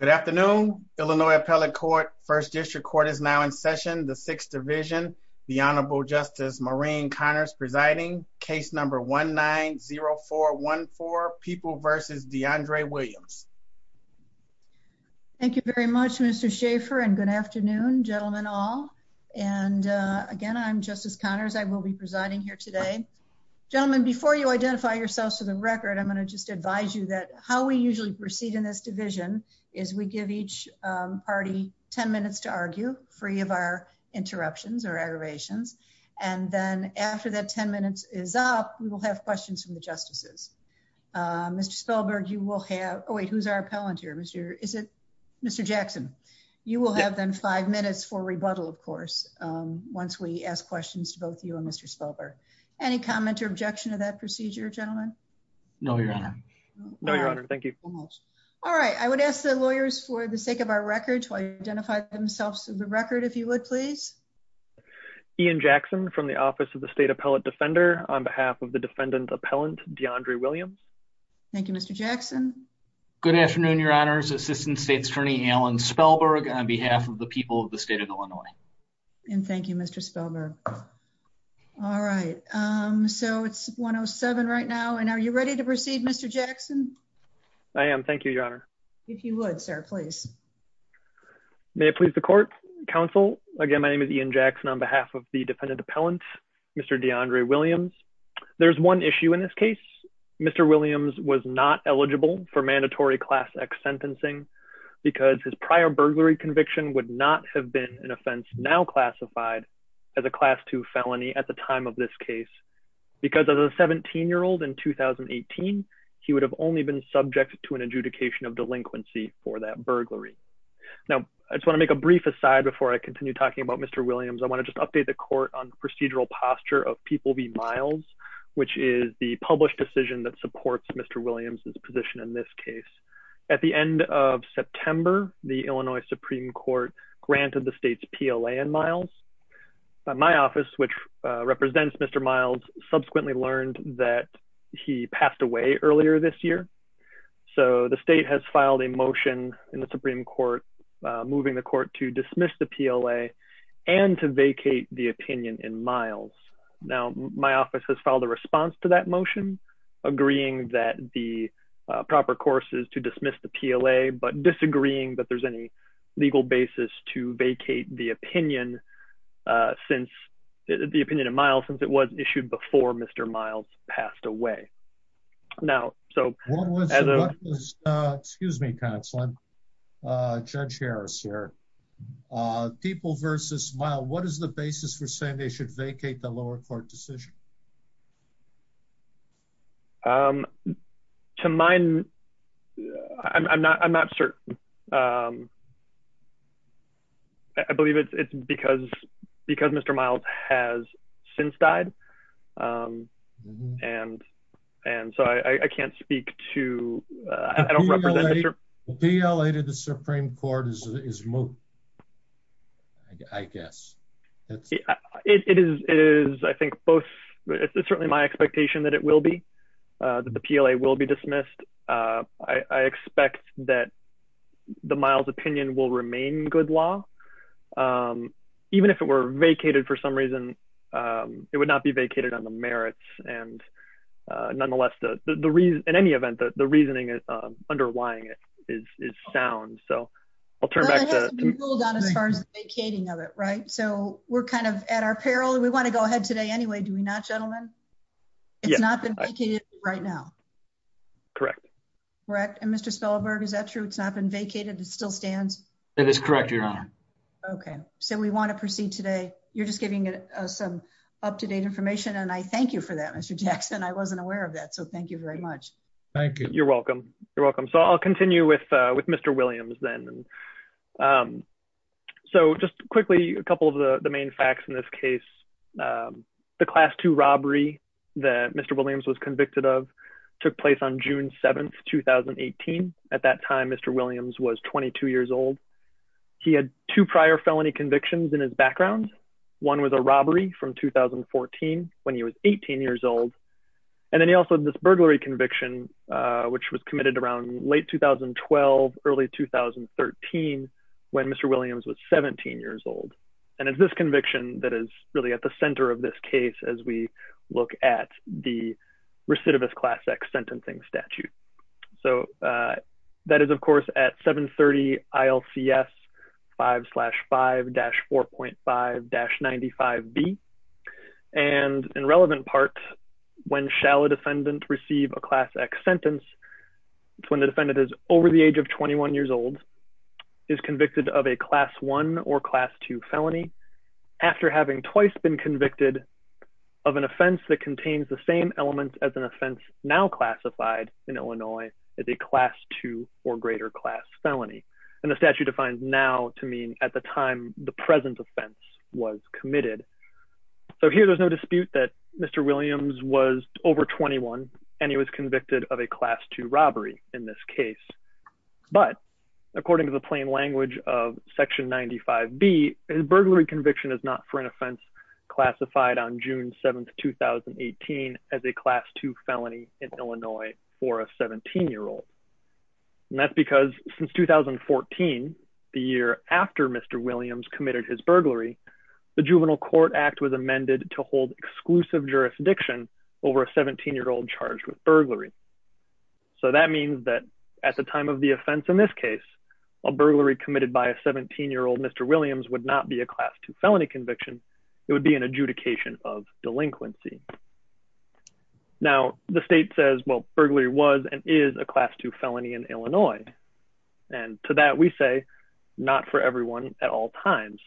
Good afternoon. Illinois Appellate Court, 1st District Court is now in session. The 6th Division, the Honorable Justice Maureen Connors presiding. Case number 1-9-0-4-1-4, People v. DeAndre Williams. Thank you very much, Mr. Schaffer, and good afternoon, gentlemen all. And again, I'm Justice Connors. I will be presiding here today. Gentlemen, before you identify yourselves to the record, I'm going to just advise you that how we usually proceed in this division is we give each party 10 minutes to argue, free of our interruptions or aggravations. And then after that 10 minutes is up, we will have questions from the justices. Mr. Spelberg, you will have, oh wait, who's our appellant here? Is it Mr. Jackson? You will have then five minutes for rebuttal, of course, once we ask questions to both you and Mr. Spelberg. Any comment or objection to that procedure, gentlemen? No, Your Honor. No, Your Honor. Thank you. All right. I would ask the lawyers for the sake of our record to identify themselves to the record, if you would, please. Ian Jackson from the Office of the State Appellate Defender on behalf of the defendant appellant, DeAndre Williams. Thank you, Mr. Jackson. Good afternoon, Your Honors. Assistant State Attorney Alan Spelberg on behalf of the people of the state of Illinois. And um, so it's 107 right now. And are you ready to proceed, Mr Jackson? I am. Thank you, Your Honor. If you would, sir, please. May it please the court Council again. My name is Ian Jackson on behalf of the defendant appellant, Mr DeAndre Williams. There's one issue in this case. Mr Williams was not eligible for mandatory class X sentencing because his prior burglary conviction would not have been an offense now classified as a case. Because of the 17 year old in 2018, he would have only been subject to an adjudication of delinquency for that burglary. Now, I just wanna make a brief aside before I continue talking about Mr Williams. I want to just update the court on procedural posture of people be miles, which is the published decision that supports Mr Williams's position in this case. At the end of September, the Illinois Supreme Court granted the state's P. L. A. And Miles. My office, which represents Mr Miles, subsequently learned that he passed away earlier this year. So the state has filed a motion in the Supreme Court, moving the court to dismiss the P. L. A. And to vacate the opinion in miles. Now, my office has filed a response to that motion, agreeing that the proper course is to dismiss the P. L. A. But disagreeing that there's any legal basis to vacate the opinion. Uh, since the opinion of miles, since it was issued before Mr Miles passed away now. So what was, uh, excuse me, counseling? Uh, Judge Harris here. Uh, people versus smile. What is the basis for saying they should vacate the lower court decision? Um, to mine. I'm not. I'm not certain. Um, I believe it's because because Mr Miles has since died. Um, and and so I can't speak to. I don't know. P. L. A. is, I think both. It's certainly my expectation that it will be that the P. L. A. Will be dismissed. Uh, I expect that the miles opinion will remain good law. Um, even if it were vacated for some reason, um, it would not be vacated on the merits. And, uh, nonetheless, the reason in any event that the reasoning is underlying it is sound. So I'll turn back on as far as ahead today. Anyway, do we not gentlemen? It's not been vacated right now. Correct. Correct. And Mr Spellberg, is that true? It's not been vacated. It still stands. That is correct, Your Honor. Okay, so we want to proceed today. You're just giving us some up to date information, and I thank you for that, Mr Jackson. I wasn't aware of that. So thank you very much. Thank you. You're welcome. You're welcome. So I'll continue with with Mr Williams then. Um, so just quickly a couple of the main facts in this case. Um, the class two robbery that Mr Williams was convicted of took place on June 7th, 2018. At that time, Mr Williams was 22 years old. He had two prior felony convictions in his background. One was a robbery from 2014 when he was 18 years old, and then he also this burglary conviction, which was in 2013 when Mr Williams was 17 years old. And it's this conviction that is really at the center of this case as we look at the recidivist class X sentencing statute. So, uh, that is, of course, at 7 30 I l c s 5 slash 5-4 .5-95 B. And in relevant parts, when shallow defendant receive a class X sentence, it's when the defendant is over the age of 21 years old, is convicted of a class one or class two felony after having twice been convicted of an offense that contains the same elements as an offense now classified in Illinois as a class two or greater class felony. And the statute defines now to mean at the time the present offense was committed. So here there's no dispute that Mr Williams was over 21 and he was convicted of a class two robbery in this case. But according to the plain language of Section 95 B, his burglary conviction is not for an offense classified on June 7th 2018 as a class two felony in Illinois for a 17 year old. And that's because since 2014, the year after Mr Williams committed his burglary, the Juvenile Court Act was amended to hold exclusive jurisdiction over a 17 year old charged with burglary. So that means that at the time of the offense, in this case, a burglary committed by a 17 year old Mr Williams would not be a class two felony conviction. It would be an adjudication of delinquency. Now, the state says, well, burglary was and is a class two felony in Illinois. And to that we say not for everyone at all times.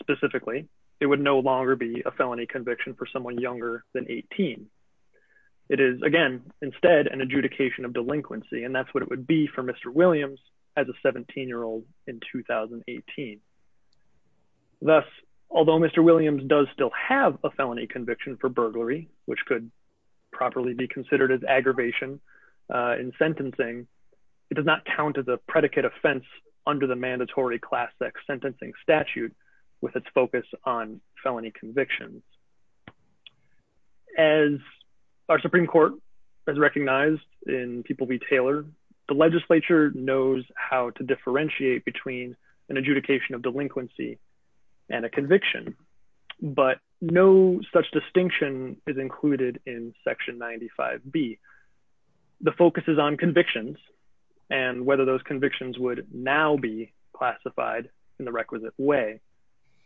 Specifically, it would no longer be a felony conviction for someone younger than 18. It is again instead an adjudication of delinquency. And that's what it would be for Mr Williams as a 17 year old in 2018. Thus, although Mr Williams does still have a felony conviction for burglary, which could properly be considered as aggravation in sentencing, it does not count as a predicate offense under the mandatory class X sentencing statute with its focus on felony convictions. As our Supreme Court has recognized in people be tailored, the Legislature knows how to differentiate between an adjudication of delinquency and a conviction. But no such distinction is included in Section 95 B. The focus is on convictions and whether those convictions would now be classified in the requisite way.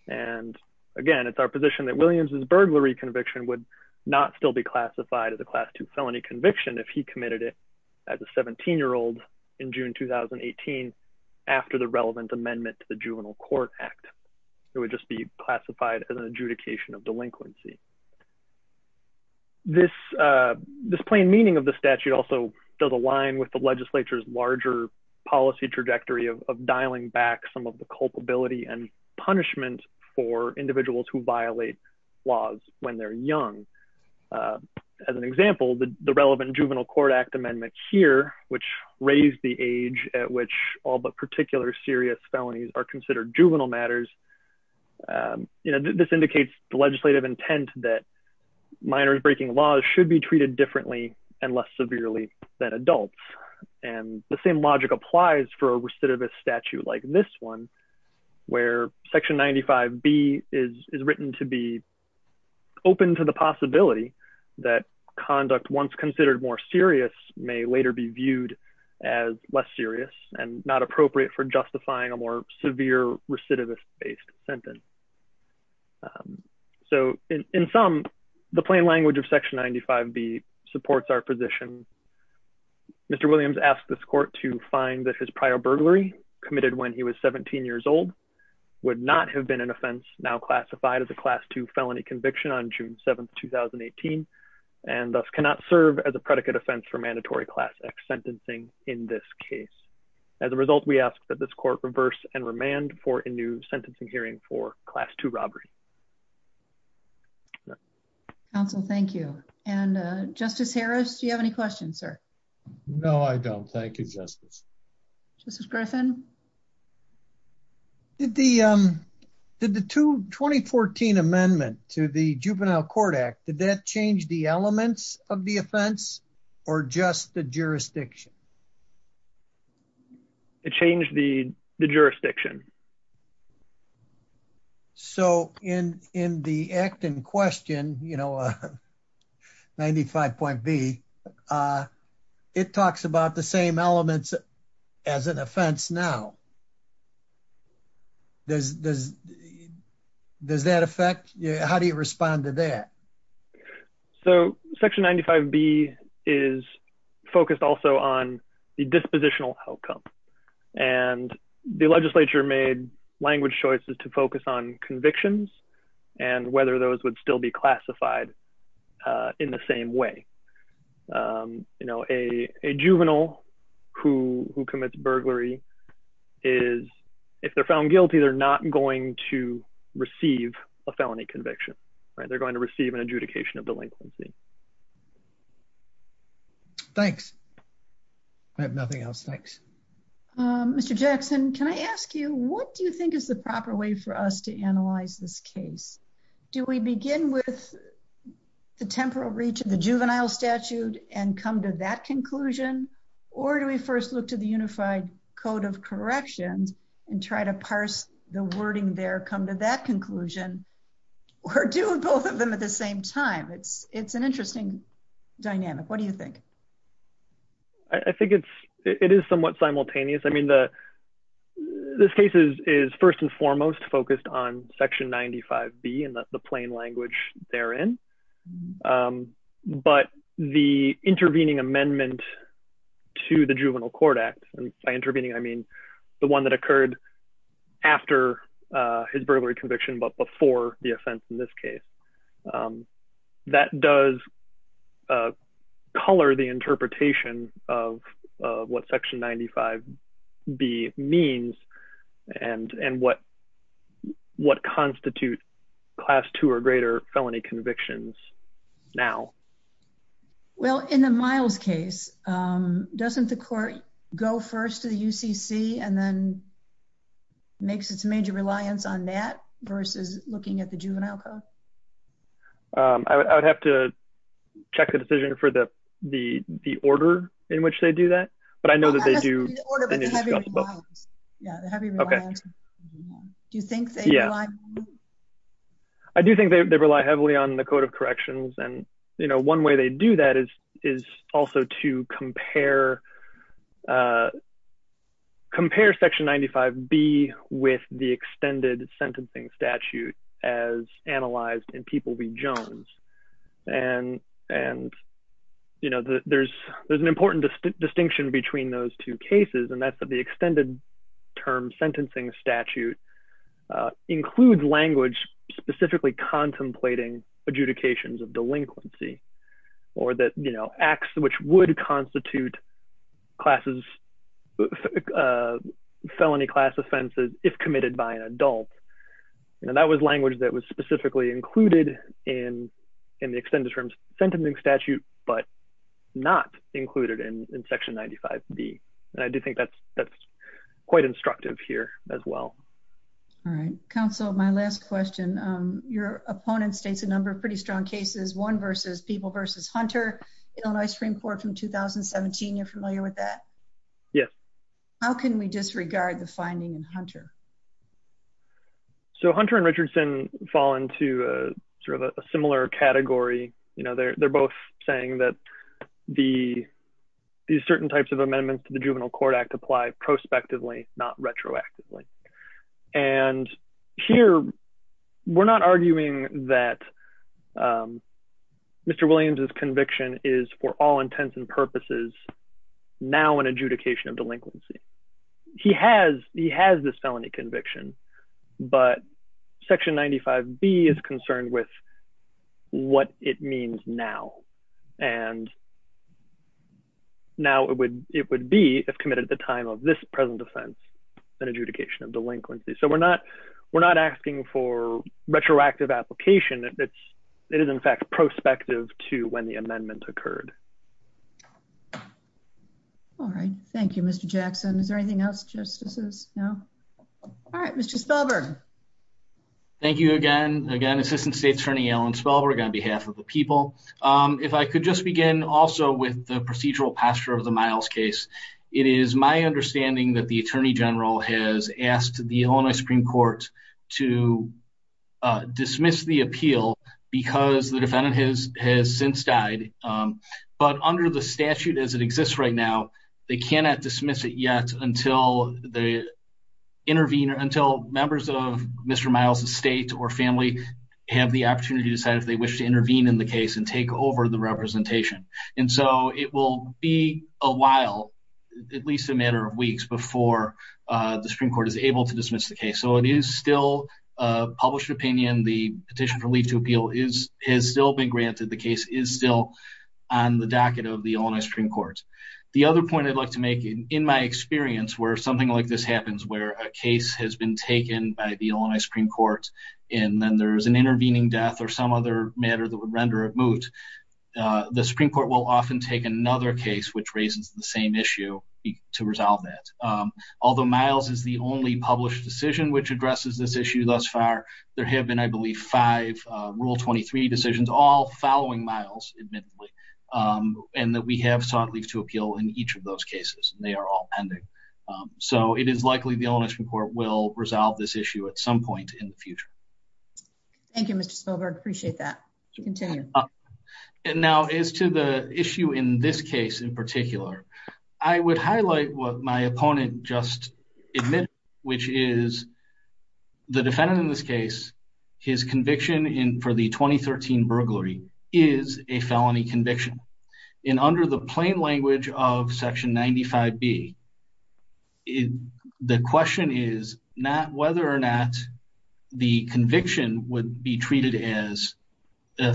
And again, it's our position that Williams is burglary conviction would not still be classified as a class two felony conviction if he committed it as a 17 year old in June 2018. After the relevant amendment to the Juvenile Court Act, it would just be classified as an adjudication of delinquency. This this plain meaning of the statute also does align with the Legislature's culpability and punishment for individuals who violate laws when they're young. As an example, the relevant Juvenile Court Act amendment here, which raised the age at which all but particular serious felonies are considered juvenile matters. You know, this indicates the legislative intent that minors breaking laws should be treated differently and less severely than adults. And the same logic applies for recidivist statute like this one, where Section 95 B is written to be open to the possibility that conduct once considered more serious may later be viewed as less serious and not appropriate for justifying a more severe recidivist based sentence. So in some, the plain language of Section 95 B supports our position. Mr. Williams asked the court to find that his prior burglary committed when he was 17 years old would not have been an offense now classified as a class two felony conviction on June 7th, 2018 and thus cannot serve as a predicate offense for mandatory class X sentencing. In this case, as a result, we ask that this court reverse and remand for a new sentencing hearing for class two robbery. Council, thank you. And Justice Harris, do you have any questions, sir? No, I don't. Thank you, Justice. Justice Griffin. Did the, um, did the two 2014 amendment to the Juvenile Court Act, did that change the elements of the offense or just the jurisdiction? It changed the jurisdiction. So in, in the act in question, you know, uh, 95.B, uh, it talks about the same elements as an offense. Now does, does, does that affect you? How do you respond to that? So Section 95 B is focused also on the dispositional outcome. And the legislature made language choices to focus on convictions and whether those would still be classified, uh, in the same way. Um, you know, a, a juvenile who, who commits burglary is if they're found guilty, they're not going to receive a felony conviction, right? They're going to receive an adjudication of delinquency. Thanks. I have nothing else. Thanks. Um, Mr. Jackson, can I ask you, what do you think is the proper way for us to analyze this case? Do we begin with the temporal reach of the juvenile statute and come to that conclusion? Or do we first look to the unified code of corrections and try to parse the wording there, come to that conclusion or do both of them at the same time? It's, it's an interesting dynamic. What do you think? I think it's, it is somewhat simultaneous. I mean, the, this case is, is first and foremost focused on Section 95 B and the plain language therein. Um, but the intervening amendment to the juvenile court act by intervening, I mean, the one that occurred after, uh, his burglary in this case, um, that does, uh, color the interpretation of, uh, what Section 95 B means and, and what, what constitute class two or greater felony convictions now? Well, in the miles case, um, doesn't the court go first to the UCC and then makes its major reliance on that versus looking at the juvenile code? Um, I would have to check the decision for the, the, the order in which they do that. But I know that they do. Yeah. Okay. Do you think that? Yeah. I do think they rely heavily on the code of corrections. And, you know, one way they do that is, is also to compare, uh, compare Section 95 B with the extended sentencing statute as analyzed in People v. Jones. And, and, you know, there's, there's an important distinction between those two cases and that's that the extended term sentencing statute, uh, includes language specifically contemplating adjudications of delinquency or that, you know, acts which would constitute classes, uh, felony class offenses if committed by an adult. And that was language that was specifically included in, in the extended terms sentencing statute, but not included in Section 95 B. And I do think that's, that's quite instructive here as well. All right. Counsel, my last question. Um, your opponent states a number of pretty strong cases, one Supreme Court from 2017. You're familiar with that? Yes. How can we disregard the finding in Hunter? So Hunter and Richardson fall into a sort of a similar category. You know, they're both saying that the certain types of amendments to the Juvenile Court Act apply prospectively, not retroactively. And here we're not all intents and purposes now an adjudication of delinquency. He has, he has this felony conviction, but Section 95 B is concerned with what it means now. And now it would, it would be if committed at the time of this present offense, an adjudication of delinquency. So we're not, we're not asking for retroactive application. It's, it is in fact prospective to when the amendment occurred. All right. Thank you, Mr Jackson. Is there anything else? Justices? No. All right, Mr Spelberg. Thank you again. Again, Assistant State Attorney Alan Spelberg on behalf of the people. Um, if I could just begin also with the procedural pasture of the miles case, it is my understanding that the Attorney General has asked the Illinois Supreme Court to dismiss the appeal because the defendant has has since died. Um, but under the statute as it exists right now, they cannot dismiss it yet until the intervener, until members of Mr. Miles' estate or family have the opportunity to decide if they wish to intervene in the case and take over the representation. And so it will be a while, at least a matter of weeks before the Supreme Court is able to dismiss the case. So it is still a published opinion. The petition for leave to appeal is, has still been granted. The case is still on the docket of the Illinois Supreme Court. The other point I'd like to make in my experience where something like this happens, where a case has been taken by the Illinois Supreme Court and then there's an intervening death or some other matter that would render it moot, uh, the Supreme Court will often take another case, which raises the same issue to resolve that. Um, although miles is the only published decision which addresses this issue thus far, there have been, I believe, five rule 23 decisions, all following Miles, admittedly, um, and that we have sought leave to appeal in each of those cases and they are all pending. Um, so it is likely the Illinois Supreme Court will resolve this issue at some point in the future. Thank you, Mr. Spilberg. Appreciate that. You continue. And now as to the issue in this case in particular, I would highlight what my opponent just admitted, which is the defendant in this case, his conviction in for the 2013 burglary is a felony conviction and under the plain language of section 95B, the question is not whether or not the conviction would be treated as a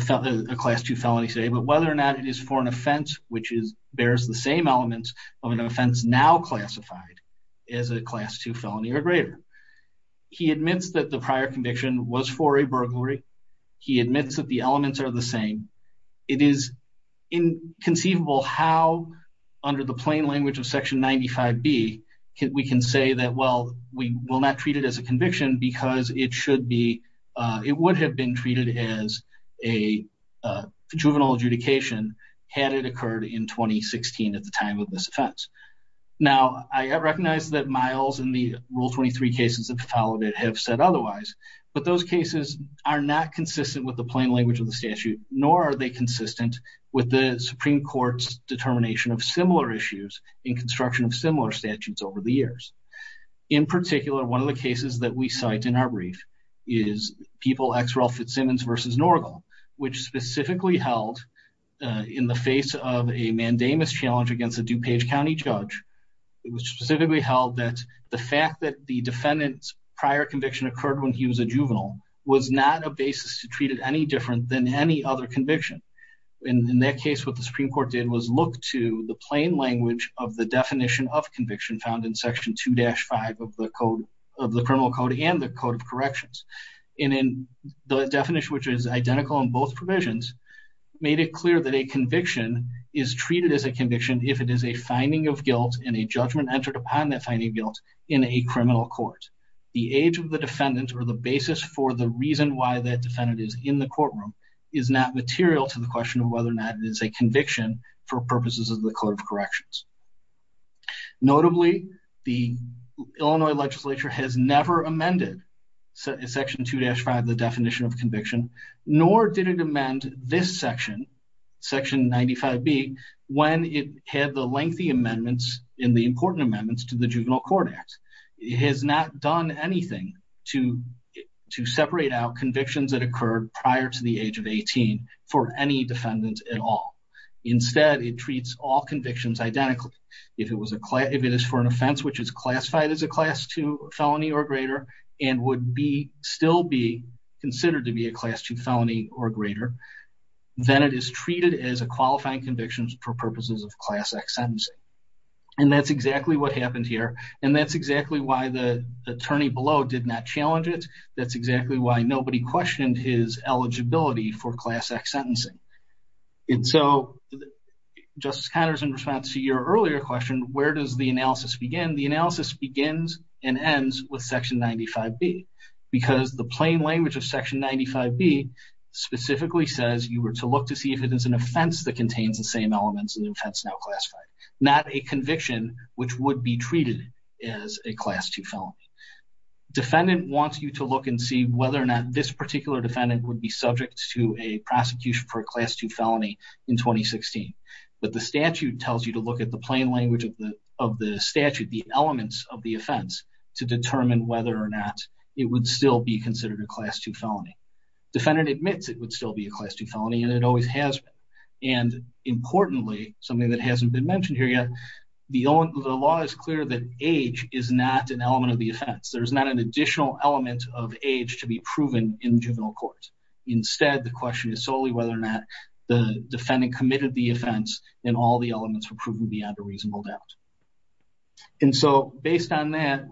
class two felony say, but whether or not it is for an offense, which is, bears the same elements of an offense now classified as a class two felony or greater. He admits that the prior conviction was for a burglary. He admits that the elements are the same. It is inconceivable how under the plain language of section 95B, we can say that, well, we will not treat it as a conviction because it should be, uh, it would have been treated as a, uh, juvenile adjudication had it occurred in 2016 at the time of this offense. Now I recognize that miles in the rule 23 cases that followed it have said otherwise, but those cases are not consistent with the plain language of the statute, nor are they consistent with the Supreme court's determination of similar issues in construction of similar statutes over the years. In particular, one of the cases that we cite in our brief is people X Ralph Fitzsimmons versus Norgal, which specifically held, uh, in the face of a mandamus challenge against a DuPage County judge, it was specifically held that the fact that the defendant's prior conviction occurred when he was a juvenile was not a basis to treat it any different than any other conviction. And in that case, what the Supreme court did was look to the plain language of the definition of conviction found in section two dash five of the code of the criminal code and the code of corrections. And in the definition, which is identical in both provisions, made it clear that a conviction is treated as a conviction. If it is a finding of guilt and a judgment entered upon that finding guilt in a criminal court, the age of the defendant or the basis for the reason why that defendant is in the courtroom is not material to the question of whether or not it is a conviction for purposes of the code of corrections. Notably, the Illinois legislature has never amended section two dash five, the definition of conviction, nor did it amend this section, section 95B, when it had the lengthy amendments in the important amendments to the juvenile court act, it has not done anything to, to separate out convictions that occurred prior to the age of 18 for any defendant at all. Instead, it treats all convictions identically. If it was a client, if it is for an offense, which is classified as a class two felony or greater, and would be still be considered to be a class two felony or greater, then it is treated as a qualifying convictions for purposes of class X sentencing. And that's exactly what happened here. And that's exactly why the attorney below did not challenge it. That's exactly why nobody questioned his eligibility for class X sentencing. And so, Justice Connors, in response to your earlier question, where does the analysis begin? The analysis begins and ends with section 95B because the plain language of section 95B specifically says you were to look to see if it is an offense that contains the same elements in the offense now classified, not a conviction, which would be treated as a class two felony. Defendant wants you to look and see whether or not this particular defendant would be subject to a prosecution for a class two felony in 2016, but the statute tells you to look at the plain language of the statute, the elements of the offense to determine whether or not it would still be considered a class two felony. Defendant admits it would still be a class two felony and it always has been. And importantly, something that hasn't been mentioned here yet, the law is clear that age is not an element of the offense, there's not an additional element of age to be proven in juvenile court. Instead, the question is solely whether or not the defendant committed the offense and all the elements were proven beyond a reasonable doubt. And so based on that,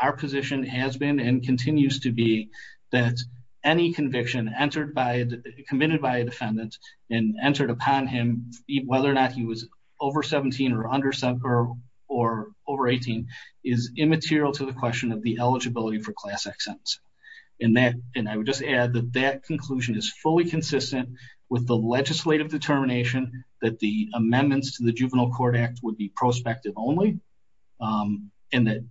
our position has been and continues to be that any conviction entered by, committed by a defendant and entered upon him, whether or not he was over 17 or under 17 or over 18 is immaterial to the question of the eligibility for class X sentence. And that, and I would just add that that conclusion is fully consistent with the legislative determination that the amendments to the juvenile court act would be prospective only. Um, and that,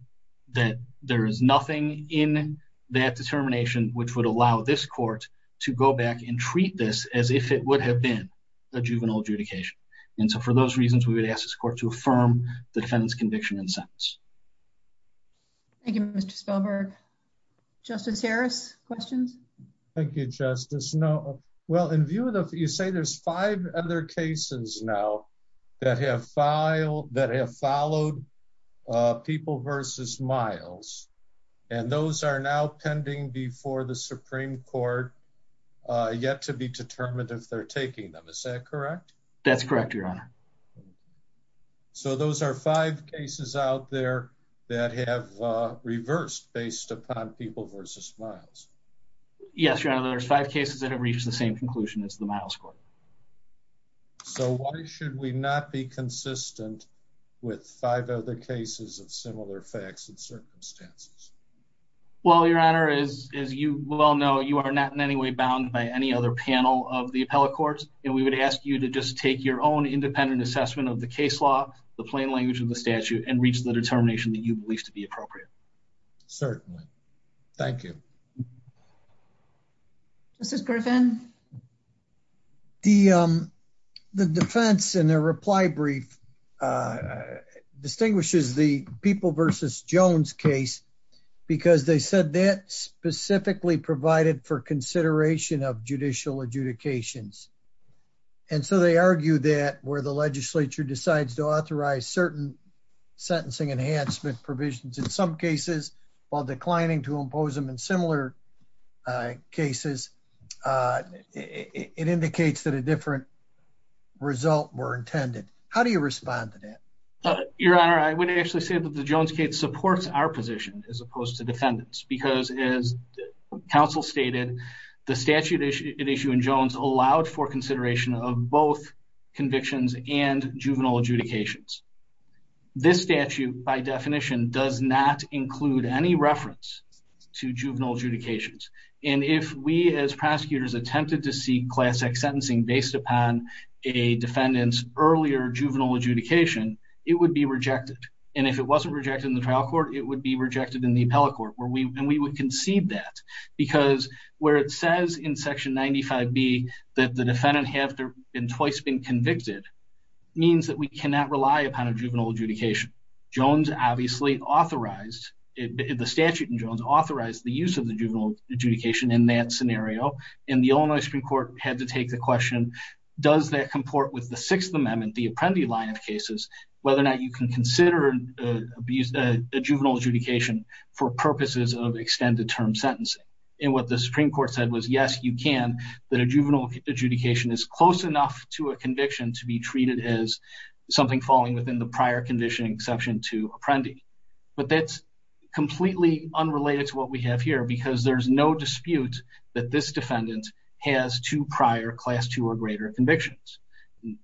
that there is nothing in that determination, which would allow this court to go back and treat this as if it would have been a juvenile adjudication. And so for those reasons, we would ask this court to affirm the defendant's conviction and sentence. Thank you, Mr. Spellberg, justice Harris questions. Thank you, justice. No, well, in view of the, you say there's five other cases now that have filed that have followed, uh, people versus miles, and those are now pending before the Supreme court, uh, yet to be determined if they're taking them. Is that correct? That's correct, your honor. Okay. So those are five cases out there that have, uh, reversed based upon people versus miles. Yes, your honor. There's five cases that have reached the same conclusion as the miles court. So why should we not be consistent with five other cases of similar facts and circumstances? Well, your honor is, as you well know, you are not in any way bound by any other panel of the appellate courts. And we would ask you to just take your own independent assessment of the case law, the plain language of the statute, and reach the determination that you believe to be appropriate. Certainly. Thank you. This is Griffin. The, um, the defense and their reply brief, uh, distinguishes the people versus Jones case because they said that specifically provided for consideration of judicial adjudications. And so they argue that where the legislature decides to authorize certain sentencing enhancement provisions in some cases while declining to impose them in similar, uh, cases, uh, it indicates that a different result were intended. How do you respond to that? Your honor. I would actually say that the Jones case supports our position as opposed to defendants, because as counsel stated, the statute issue in Jones allowed for consideration of both convictions and juvenile adjudications. This statute by definition does not include any reference to juvenile adjudications, and if we, as prosecutors attempted to seek class X sentencing based upon a defendant's earlier juvenile adjudication, it would be rejected. And if it wasn't rejected in the trial court, it would be rejected in the appellate court where we, and we would concede that because where it says in section 95B that the defendant have been twice been convicted means that we cannot rely upon a juvenile adjudication, Jones obviously authorized it, the statute in Jones authorized the use of the juvenile adjudication in that scenario. And the Illinois Supreme court had to take the question, does that comport with the sixth amendment, the Apprendi line of cases, whether or not you can consider a juvenile adjudication for purposes of extended term sentencing. And what the Supreme court said was, yes, you can, that a juvenile adjudication is close enough to a conviction to be treated as something falling within the prior conditioning exception to Apprendi. But that's completely unrelated to what we have here because there's no dispute that this defendant has two prior class two or greater convictions.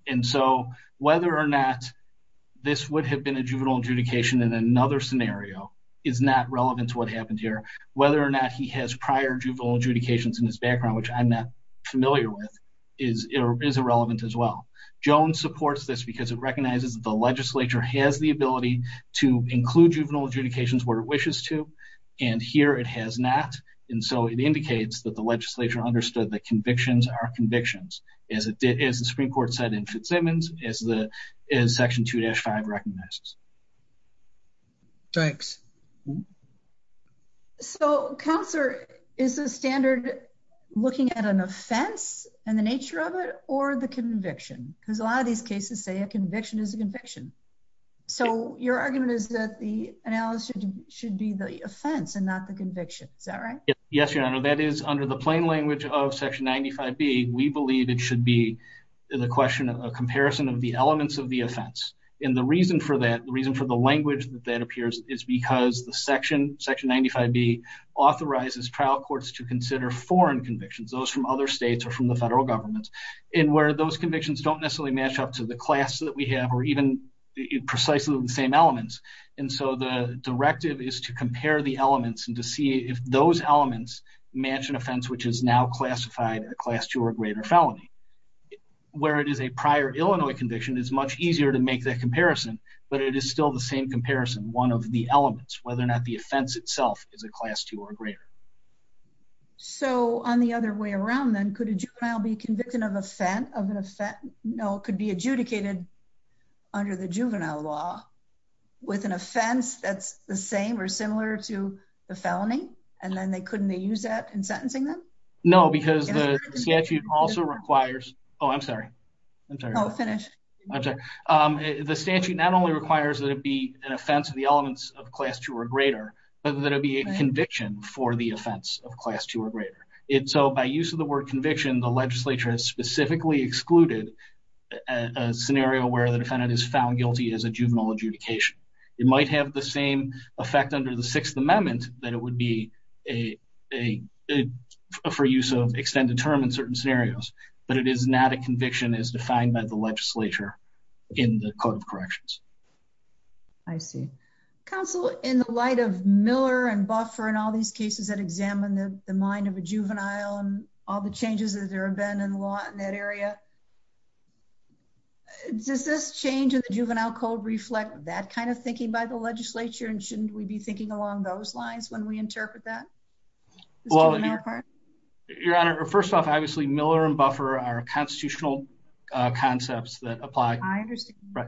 And so whether or not this would have been a juvenile adjudication in another scenario is not relevant to what happened here, whether or not he has prior juvenile adjudications in his background, which I'm not familiar with is irrelevant as well, Jones supports this because it recognizes that the legislature has the ability to include juvenile adjudications where it wishes to, and here it has not. And so it indicates that the legislature understood that convictions are convictions. As it did, as the Supreme court said in Fitzsimmons, as the, as section two dash five recognizes. Thanks. Hmm. So counselor is a standard looking at an offense and the nature of it, or the conviction. Cause a lot of these cases say a conviction is a conviction. So your argument is that the analysis should be the offense and not the conviction. Is that right? Yes, Your Honor. That is under the plain language of section 95 B. We believe it should be the question of a comparison of the elements of the offense. And the reason for that, the reason for the language that that the section section 95 B authorizes trial courts to consider foreign convictions, those from other States or from the federal government. And where those convictions don't necessarily match up to the class that we have, or even precisely the same elements. And so the directive is to compare the elements and to see if those elements match an offense, which is now classified a class two or greater felony, where it is a prior Illinois conviction is much easier to make that comparison, but it is still the same comparison, one of the elements, whether or not the offense itself is a class two or greater. So on the other way around, then could a juvenile be convicted of offense of an offense, no, it could be adjudicated under the juvenile law. With an offense that's the same or similar to the felony. And then they couldn't, they use that in sentencing them? No, because the statute also requires, oh, I'm sorry. I'm sorry. I'm sorry. Um, the statute not only requires that it be an offense of the elements of class two or greater, but that it'd be a conviction for the offense of class two or greater. It, so by use of the word conviction, the legislature has specifically excluded a scenario where the defendant is found guilty as a juvenile adjudication. It might have the same effect under the sixth amendment that it would be a, a, for use of extended term in certain scenarios, but it is not a conviction as defined by the legislature in the code of corrections. I see. Counsel in the light of Miller and Buffer and all these cases that examine the mind of a juvenile and all the changes that there have been in the law in that area. Does this change in the juvenile code reflect that kind of thinking by the legislature and shouldn't we be thinking along those lines when we interpret that? Well, your honor, first off, obviously Miller and Buffer are constitutional concepts that apply. Right.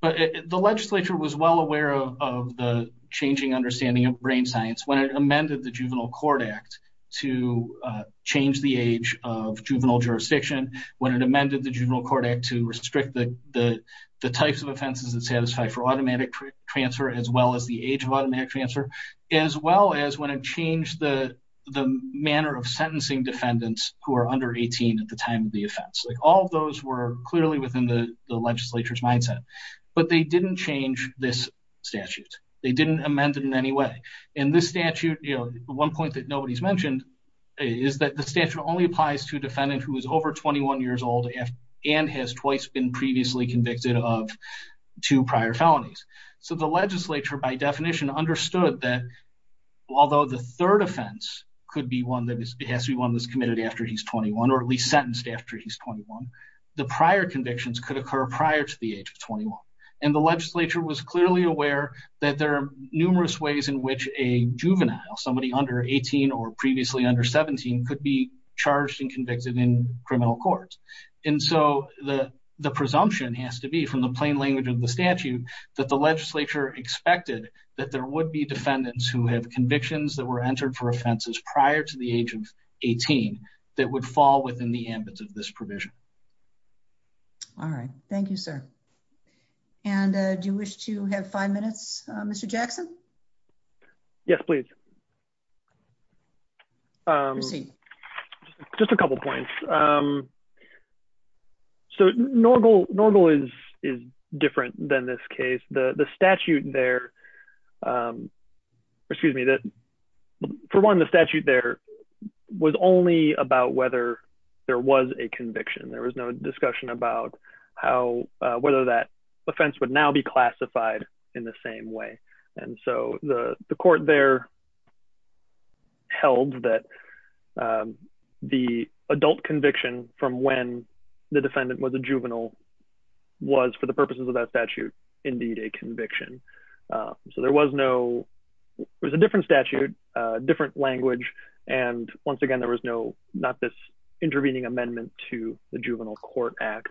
But the legislature was well aware of the changing understanding of brain science when it amended the juvenile court act to change the age of juvenile jurisdiction, when it amended the juvenile court act to restrict the types of offenses that satisfy for automatic transfer, as well as the age of automatic transfer. As well as when it changed the manner of sentencing defendants who are under 18 at the time of the offense. Like all of those were clearly within the legislature's mindset, but they didn't change this statute. They didn't amend it in any way. And this statute, you know, one point that nobody's mentioned is that the statute only applies to a defendant who is over 21 years old and has twice been previously convicted of two prior felonies. So the legislature by definition understood that although the third defendant is committed after he's 21, or at least sentenced after he's 21, the prior convictions could occur prior to the age of 21 and the legislature was clearly aware that there are numerous ways in which a juvenile, somebody under 18 or previously under 17 could be charged and convicted in criminal courts. And so the presumption has to be from the plain language of the statute that the legislature expected that there would be defendants who have convictions that were entered for offenses prior to the age of 18 that would fall within the ambit of this provision. All right. Thank you, sir. And do you wish to have five minutes, Mr. Jackson? Yes, please. Um, just a couple of points. Um, so normal, normal is, is different than this case. The, the statute there, um, excuse me, that for one, the statute there was only about whether there was a conviction. There was no discussion about how, uh, whether that offense would now be classified in the same way. And so the court there held that, um, the adult conviction from when the conviction, uh, so there was no, it was a different statute, a different language. And once again, there was no, not this intervening amendment to the juvenile court act.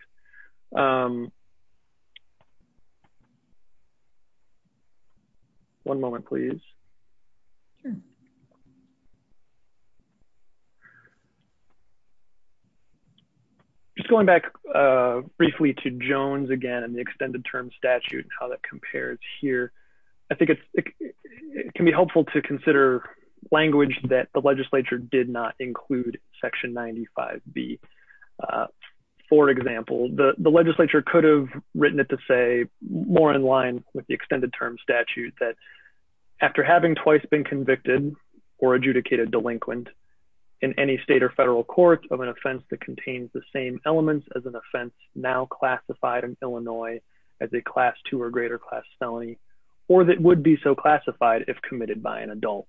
Um, one moment, please. Just going back, uh, briefly to Jones again, and the extended term statute and that compares here, I think it can be helpful to consider language that the legislature did not include section 95 B. Uh, for example, the legislature could have written it to say more in line with the extended term statute that after having twice been convicted or adjudicated delinquent in any state or federal court of an offense that contains the same Illinois as a class two or greater class felony, or that would be so classified if committed by an adult.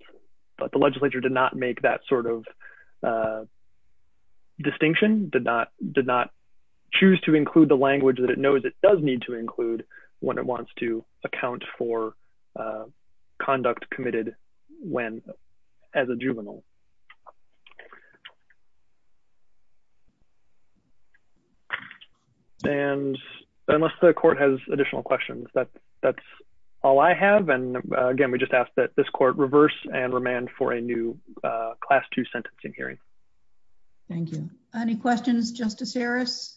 But the legislature did not make that sort of, uh, distinction did not, did not choose to include the language that it knows it does need to include when it wants to account for, uh, conduct committed when as a juvenile. And unless the court has additional questions, that that's all I have. And again, we just asked that this court reverse and remand for a new, uh, class two sentencing hearing. Thank you. Any questions, justice Harris?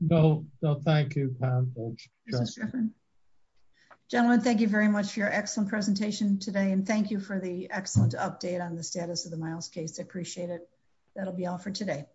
No, no. Thank you. Pam. Thank you. Mr. Shiffrin. Gentlemen, thank you very much for your excellent presentation today. Thank you. Thank you. Thank you. Thank you. Thank you. Thank you. Thank you. Thank you. Thank you. Miles case. I appreciate it. That'll be all for today.